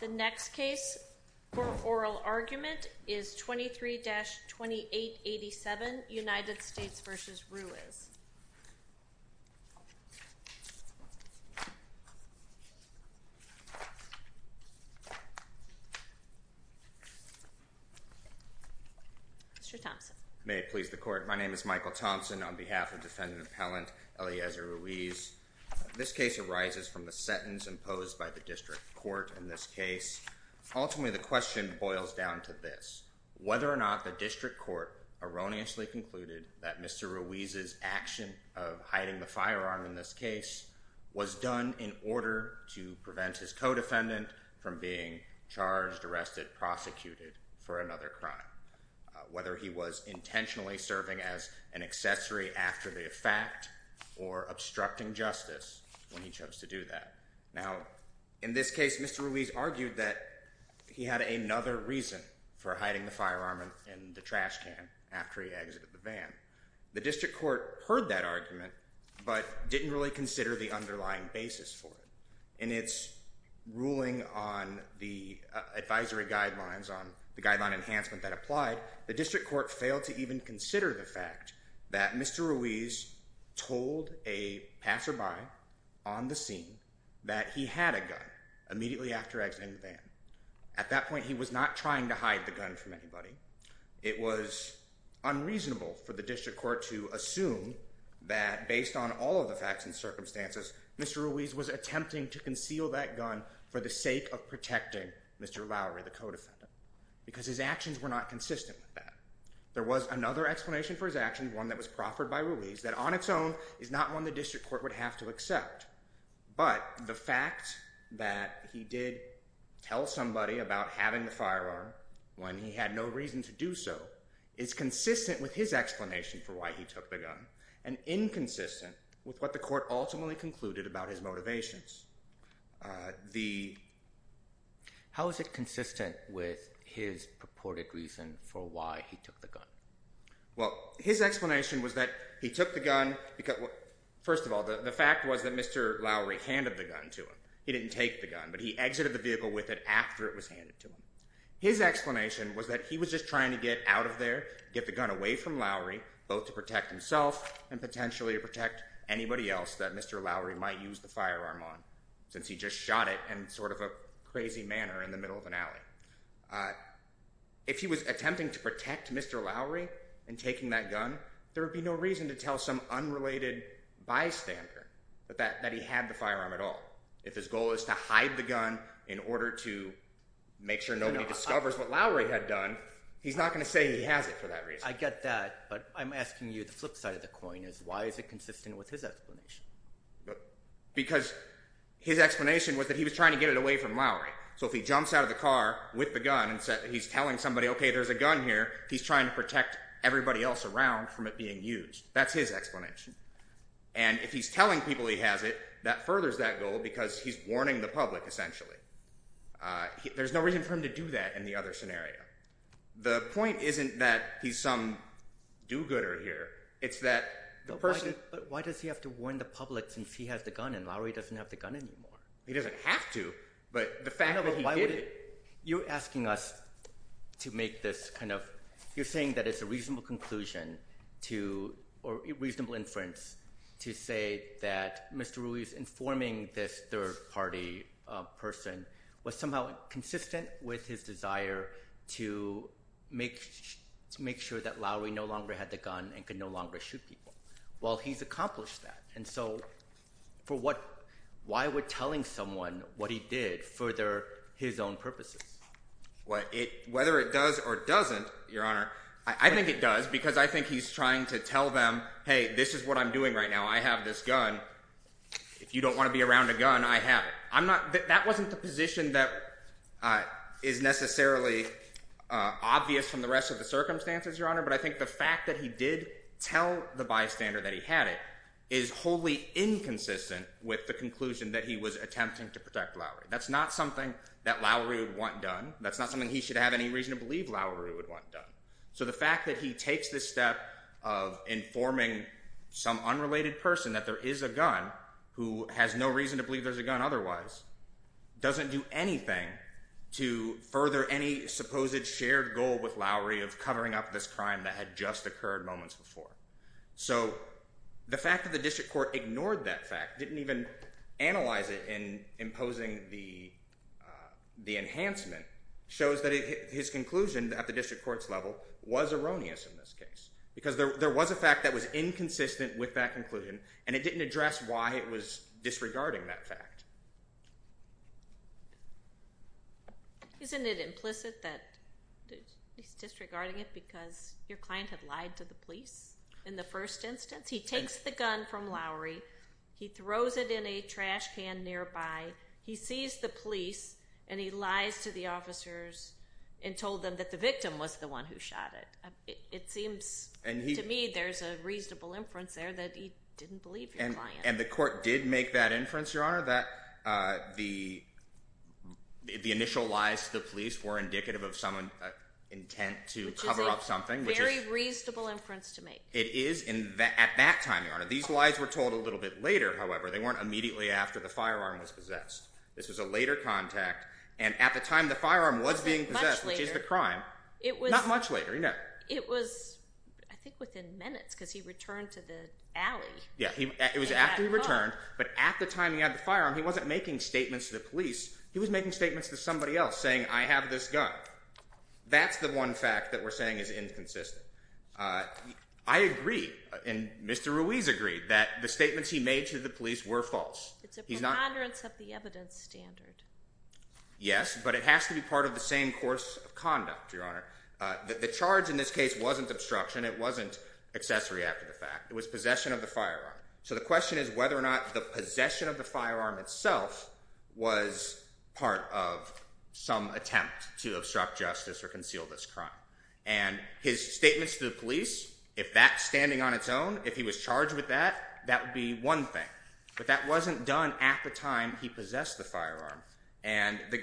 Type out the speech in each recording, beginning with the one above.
The next case for oral argument is 23-2887, United States v. Ruiz. Mr. Thompson. May it please the court. My name is Michael Thompson on behalf of defendant appellant Eliezer Ruiz. This case arises from the sentence imposed by the district court in this case. Ultimately, the question boils down to this. Whether or not the district court erroneously concluded that Mr. Ruiz's action of hiding the firearm in this case was done in order to prevent his co-defendant from being charged, arrested, prosecuted for another crime. Whether he was intentionally serving as an accessory after the fact or obstructing justice when he chose to do that. Now, in this case, Mr. Ruiz argued that he had another reason for hiding the firearm in the trash can after he exited the van. The district court heard that argument but didn't really consider the underlying basis for it. In its ruling on the advisory guidelines on the guideline enhancement that applied, the district court failed to even consider the fact that Mr. Ruiz told a passerby on the scene that he had a gun immediately after exiting the van. At that point, he was not trying to hide the gun from anybody. It was unreasonable for the district court to assume that based on all of the facts and circumstances, Mr. Ruiz was attempting to conceal that gun for the sake of protecting Mr. Lowry, the co-defendant. Because his actions were not consistent with that. There was another explanation for his actions, one that was proffered by Ruiz, that on its own is not one the district court would have to accept. But the fact that he did tell somebody about having the firearm when he had no reason to do so is consistent with his explanation for why he took the gun and inconsistent with what the court ultimately concluded about his motivations. How is it consistent with his purported reason for why he took the gun? Well, his explanation was that he took the gun because, first of all, the fact was that Mr. Lowry handed the gun to him. He didn't take the gun, but he exited the vehicle with it after it was handed to him. His explanation was that he was just trying to get out of there, get the gun away from Lowry, both to protect himself and potentially to protect anybody else that Mr. Lowry might use the firearm on, since he just shot it in sort of a crazy manner in the middle of an alley. If he was attempting to protect Mr. Lowry in taking that gun, there would be no reason to tell some unrelated bystander that he had the firearm at all. If his goal is to hide the gun in order to make sure nobody discovers what Lowry had done, he's not going to say he has it for that reason. I get that, but I'm asking you the flip side of the coin. Why is it consistent with his explanation? Because his explanation was that he was trying to get it away from Lowry. So if he jumps out of the car with the gun and he's telling somebody, okay, there's a gun here, he's trying to protect everybody else around from it being used. That's his explanation. And if he's telling people he has it, that furthers that goal because he's warning the public essentially. There's no reason for him to do that in the other scenario. The point isn't that he's some do-gooder here. It's that the person… But why does he have to warn the public since he has the gun and Lowry doesn't have the gun anymore? He doesn't have to, but the fact that he did… You're asking us to make this kind of – you're saying that it's a reasonable conclusion to – or reasonable inference to say that Mr. Ruiz informing this third-party person was somehow consistent with his desire to make sure that Lowry no longer had the gun and could no longer shoot people. Well, he's accomplished that, and so for what – why would telling someone what he did further his own purposes? Whether it does or doesn't, Your Honor, I think it does because I think he's trying to tell them, hey, this is what I'm doing right now. I have this gun. If you don't want to be around a gun, I have it. I'm not – that wasn't the position that is necessarily obvious from the rest of the circumstances, Your Honor, but I think the fact that he did tell the bystander that he had it is wholly inconsistent with the conclusion that he was attempting to protect Lowry. That's not something that Lowry would want done. That's not something he should have any reason to believe Lowry would want done. So the fact that he takes this step of informing some unrelated person that there is a gun who has no reason to believe there's a gun otherwise doesn't do anything to further any supposed shared goal with Lowry of covering up this crime that had just occurred moments before. So the fact that the district court ignored that fact, didn't even analyze it in imposing the enhancement, shows that his conclusion at the district court's level was erroneous in this case because there was a fact that was inconsistent with that conclusion, and it didn't address why it was disregarding that fact. Isn't it implicit that he's disregarding it because your client had lied to the police in the first instance? He takes the gun from Lowry. He throws it in a trash can nearby. He sees the police, and he lies to the officers and told them that the victim was the one who shot it. It seems to me there's a reasonable inference there that he didn't believe your client. And the court did make that inference, Your Honor, that the initial lies to the police were indicative of some intent to cover up something. Which is a very reasonable inference to make. It is at that time, Your Honor. These lies were told a little bit later, however. They weren't immediately after the firearm was possessed. This was a later contact, and at the time the firearm was being possessed, which is the crime, not much later. It was, I think, within minutes because he returned to the alley. Yeah, it was after he returned, but at the time he had the firearm, he wasn't making statements to the police. He was making statements to somebody else, saying, I have this gun. That's the one fact that we're saying is inconsistent. I agree, and Mr. Ruiz agreed, that the statements he made to the police were false. It's a preponderance of the evidence standard. Yes, but it has to be part of the same course of conduct, Your Honor. The charge in this case wasn't obstruction. It wasn't accessory after the fact. It was possession of the firearm. So the question is whether or not the possession of the firearm itself was part of some attempt to obstruct justice or conceal this crime. And his statements to the police, if that's standing on its own, if he was charged with that, that would be one thing. But that wasn't done at the time he possessed the firearm. And the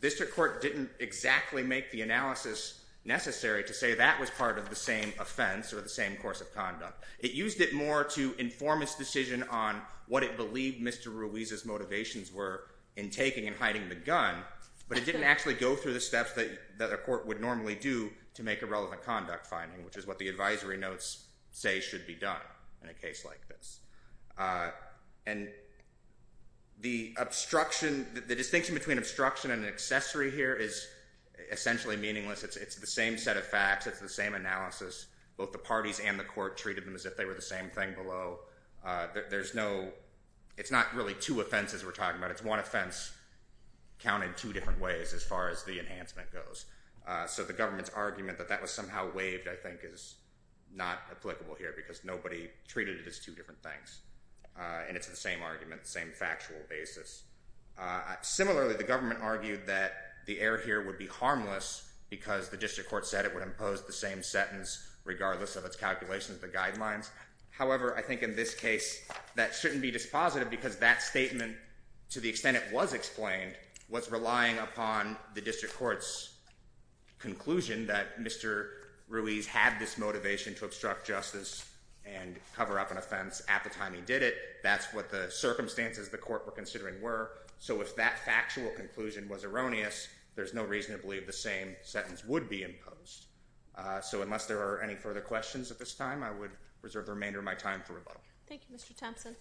district court didn't exactly make the analysis necessary to say that was part of the same offense or the same course of conduct. It used it more to inform its decision on what it believed Mr. Ruiz's motivations were in taking and hiding the gun. But it didn't actually go through the steps that a court would normally do to make a relevant conduct finding, which is what the advisory notes say should be done in a case like this. And the obstruction, the distinction between obstruction and accessory here is essentially meaningless. It's the same set of facts. It's the same analysis. Both the parties and the court treated them as if they were the same thing below. There's no—it's not really two offenses we're talking about. It's one offense counted two different ways as far as the enhancement goes. So the government's argument that that was somehow waived, I think, is not applicable here because nobody treated it as two different things. And it's the same argument, the same factual basis. Similarly, the government argued that the error here would be harmless because the district court said it would impose the same sentence regardless of its calculations, the guidelines. However, I think in this case that shouldn't be dispositive because that statement, to the extent it was explained, was relying upon the district court's conclusion that Mr. Ruiz had this motivation to obstruct justice and cover up an offense at the time he did it. That's what the circumstances the court were considering were. So if that factual conclusion was erroneous, there's no reason to believe the same sentence would be imposed. So unless there are any further questions at this time, I would reserve the remainder of my time for rebuttal. Thank you, Mr. Thompson.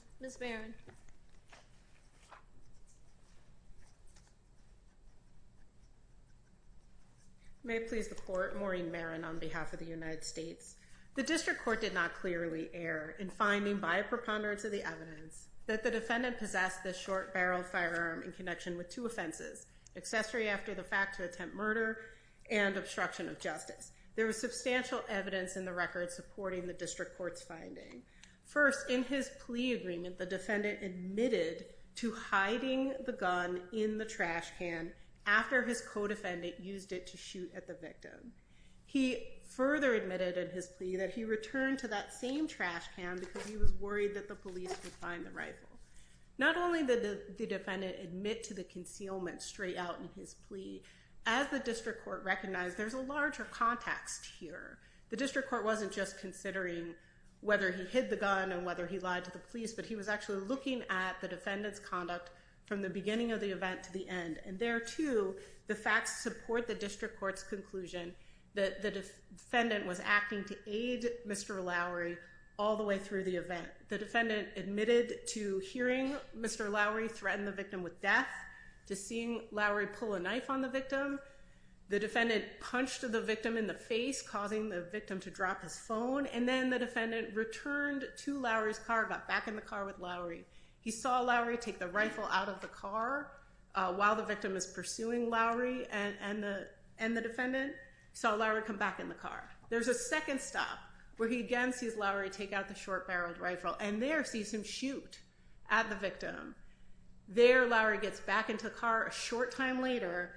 May it please the court, Maureen Marin on behalf of the United States. The district court did not clearly err in finding by a preponderance of the evidence that the defendant possessed this short barrel firearm in connection with two offenses, accessory after the fact to attempt murder and obstruction of justice. There was substantial evidence in the record supporting the district court's finding. First, in his plea agreement, the defendant admitted to hiding the gun in the trash can after his co-defendant used it to shoot at the victim. He further admitted in his plea that he returned to that same trash can because he was worried that the police would find the rifle. Not only did the defendant admit to the concealment straight out in his plea, as the district court recognized, there's a larger context here. The district court wasn't just considering whether he hid the gun and whether he lied to the police, but he was actually looking at the defendant's conduct from the beginning of the event to the end. And there, too, the facts support the district court's conclusion that the defendant was acting to aid Mr. Lowry all the way through the event. The defendant admitted to hearing Mr. Lowry threaten the victim with death, to seeing Lowry pull a knife on the victim. The defendant punched the victim in the face, causing the victim to drop his phone. And then the defendant returned to Lowry's car, got back in the car with Lowry. He saw Lowry take the rifle out of the car while the victim is pursuing Lowry and the defendant. He saw Lowry come back in the car. There's a second stop where he again sees Lowry take out the short-barreled rifle and there sees him shoot at the victim. There, Lowry gets back into the car. A short time later,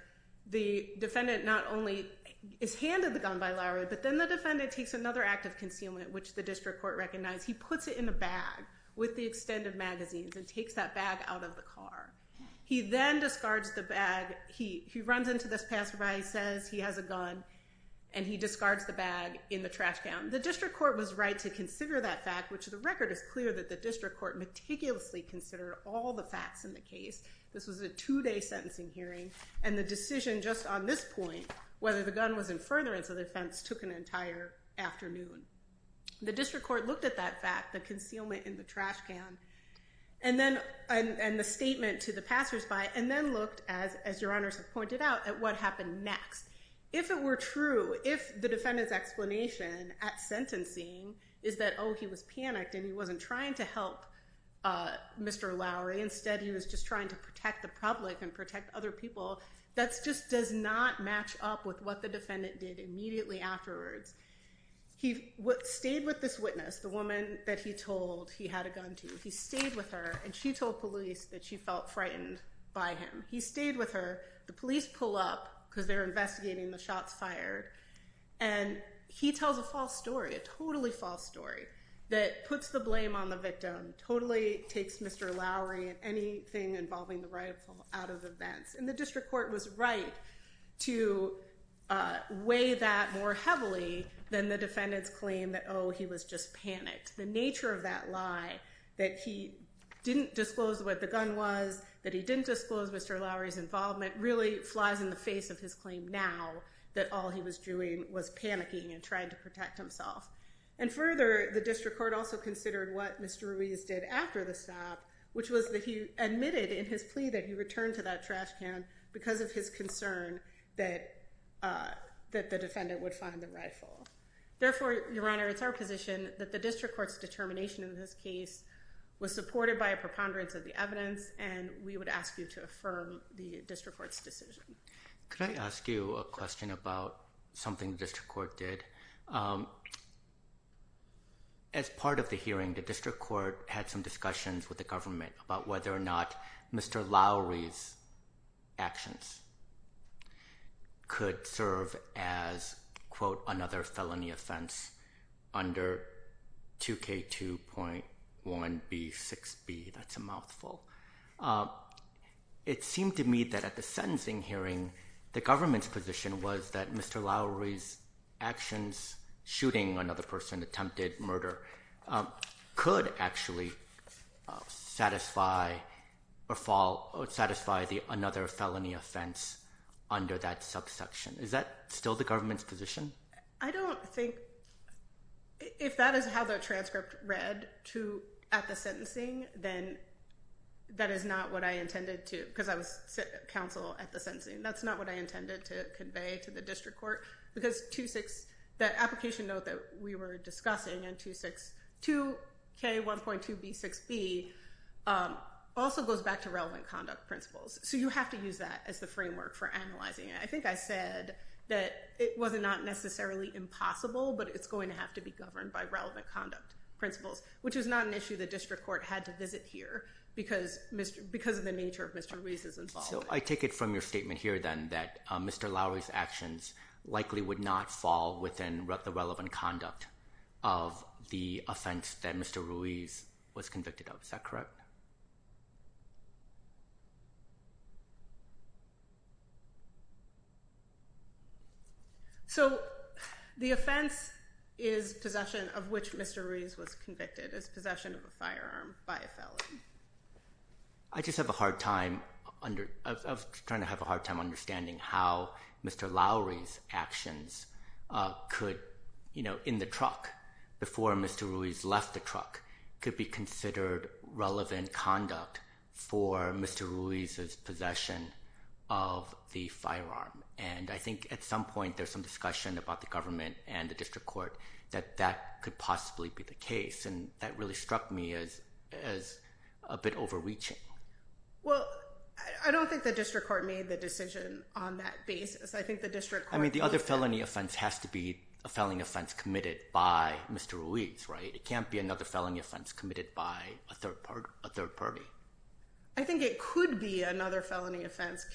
the defendant not only is handed the gun by Lowry, but then the defendant takes another act of concealment, which the district court recognized. He puts it in a bag with the extended magazines and takes that bag out of the car. He then discards the bag. He runs into this passerby, says he has a gun, and he discards the bag in the trash can. The district court was right to consider that fact, which the record is clear that the district court meticulously considered all the facts in the case. This was a two-day sentencing hearing. And the decision just on this point, whether the gun was in furtherance of the offense, took an entire afternoon. The district court looked at that fact, the concealment in the trash can, and the statement to the passersby, and then looked, as your honors have pointed out, at what happened next. If it were true, if the defendant's explanation at sentencing is that, oh, he was panicked and he wasn't trying to help Mr. Lowry, instead he was just trying to protect the public and protect other people, that just does not match up with what the defendant did immediately afterwards. He stayed with this witness, the woman that he told he had a gun to. He stayed with her, and she told police that she felt frightened by him. He stayed with her. The police pull up because they're investigating the shots fired, and he tells a false story, a totally false story, that puts the blame on the victim, totally takes Mr. Lowry and anything involving the rifle out of the vents. The district court was right to weigh that more heavily than the defendant's claim that, oh, he was just panicked. The nature of that lie, that he didn't disclose what the gun was, that he didn't disclose Mr. Lowry's involvement, really flies in the face of his claim now that all he was doing was panicking and trying to protect himself. And further, the district court also considered what Mr. Ruiz did after the stop, which was that he admitted in his plea that he returned to that trash can because of his concern that the defendant would find the rifle. Therefore, Your Honor, it's our position that the district court's determination in this case was supported by a preponderance of the evidence, and we would ask you to affirm the district court's decision. Could I ask you a question about something the district court did? As part of the hearing, the district court had some discussions with the government about whether or not Mr. Lowry's actions could serve as, quote, another felony offense under 2K2.1B6B. That's a mouthful. It seemed to me that at the sentencing hearing, the government's position was that Mr. Lowry's actions, shooting another person, attempted murder, could actually satisfy another felony offense under that subsection. Is that still the government's position? I don't think – if that is how the transcript read at the sentencing, then that is not what I intended to – because I was counsel at the sentencing, that's not what I intended to convey to the district court, because that application note that we were discussing in 2K1.2B6B also goes back to relevant conduct principles. So you have to use that as the framework for analyzing it. I think I said that it was not necessarily impossible, but it's going to have to be governed by relevant conduct principles, which is not an issue the district court had to visit here because of the nature of Mr. Ruiz's involvement. So I take it from your statement here, then, that Mr. Lowry's actions likely would not fall within the relevant conduct of the offense that Mr. Ruiz was convicted of. Is that correct? So the offense is possession of which Mr. Ruiz was convicted, is possession of a firearm by a felon. I just have a hard time – I was trying to have a hard time understanding how Mr. Lowry's actions could – and I think at some point there's some discussion about the government and the district court that that could possibly be the case, and that really struck me as a bit overreaching. Well, I don't think the district court made the decision on that basis. I think the district court – I mean, the other felony offense has to be a felony offense committed by Mr. Ruiz, right? It can't be another felony offense committed by a third party. I think it could be another felony offense.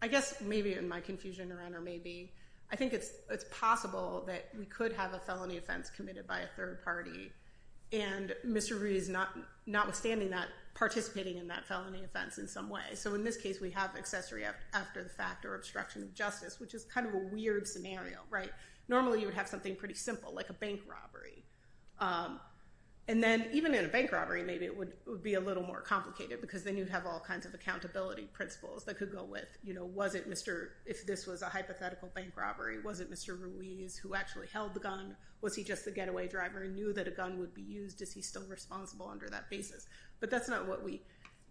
I guess maybe in my confusion around a maybe, I think it's possible that we could have a felony offense committed by a third party, and Mr. Ruiz notwithstanding that, participating in that felony offense in some way. So in this case, we have accessory after the fact or obstruction of justice, which is kind of a weird scenario, right? Normally, you would have something pretty simple, like a bank robbery. And then even in a bank robbery, maybe it would be a little more complicated because then you'd have all kinds of accountability principles that could go with, you know, was it Mr. – if this was a hypothetical bank robbery, was it Mr. Ruiz who actually held the gun? Was he just the getaway driver and knew that a gun would be used? Is he still responsible under that basis? But that's not what we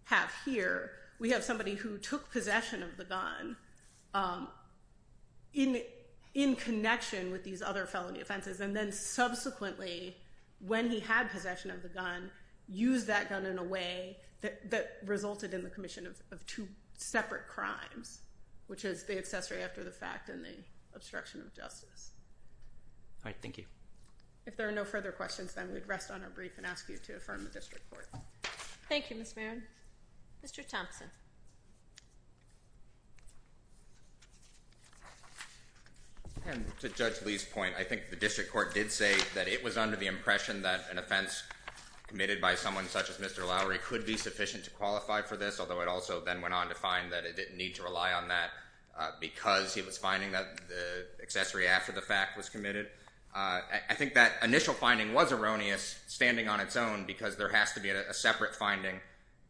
have here. We have somebody who took possession of the gun in connection with these other felony offenses, and then subsequently, when he had possession of the gun, used that gun in a way that resulted in the commission of two separate crimes, which is the accessory after the fact and the obstruction of justice. All right. Thank you. If there are no further questions, then we'd rest on our brief and ask you to affirm the district court. Thank you, Ms. Maron. Mr. Thompson. And to Judge Lee's point, I think the district court did say that it was under the impression that an offense committed by someone such as Mr. Lowery could be sufficient to qualify for this, although it also then went on to find that it didn't need to rely on that because he was finding that the accessory after the fact was committed. I think that initial finding was erroneous, standing on its own, because there has to be a separate finding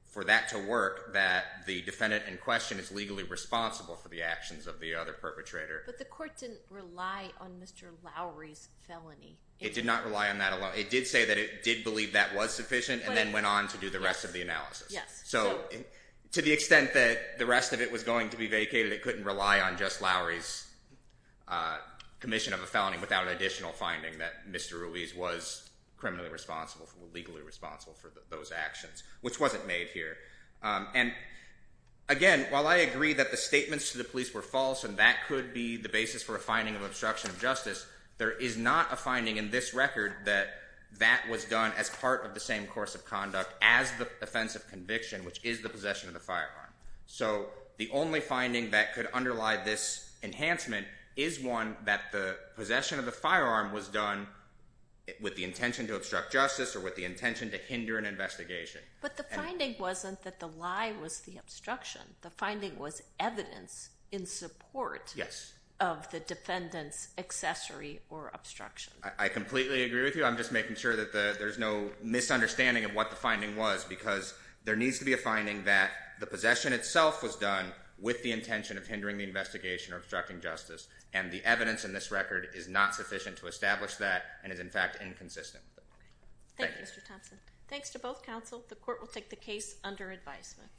for that to work, that the defendant in question is legally responsible for the actions of the other perpetrator. But the court didn't rely on Mr. Lowery's felony. It did not rely on that alone. It did say that it did believe that was sufficient and then went on to do the rest of the analysis. Yes. So to the extent that the rest of it was going to be vacated, it couldn't rely on just Lowery's commission of a felony without an additional finding that Mr. Ruiz was criminally responsible, legally responsible for those actions, which wasn't made here. And again, while I agree that the statements to the police were false and that could be the basis for a finding of obstruction of justice, there is not a finding in this record that that was done as part of the same course of conduct as the offense of conviction, which is the possession of the firearm. So the only finding that could underlie this enhancement is one that the possession of the firearm was done with the intention to obstruct justice or with the intention to hinder an investigation. But the finding wasn't that the lie was the obstruction. The finding was evidence in support of the defendant's accessory or obstruction. I completely agree with you. I'm just making sure that there's no misunderstanding of what the finding was because there needs to be a finding that the possession itself was done with the intention of hindering the investigation or obstructing justice, and the evidence in this record is not sufficient to establish that and is, in fact, inconsistent. Thank you, Mr. Thompson. Thanks to both counsel. The court will take the case under advisement.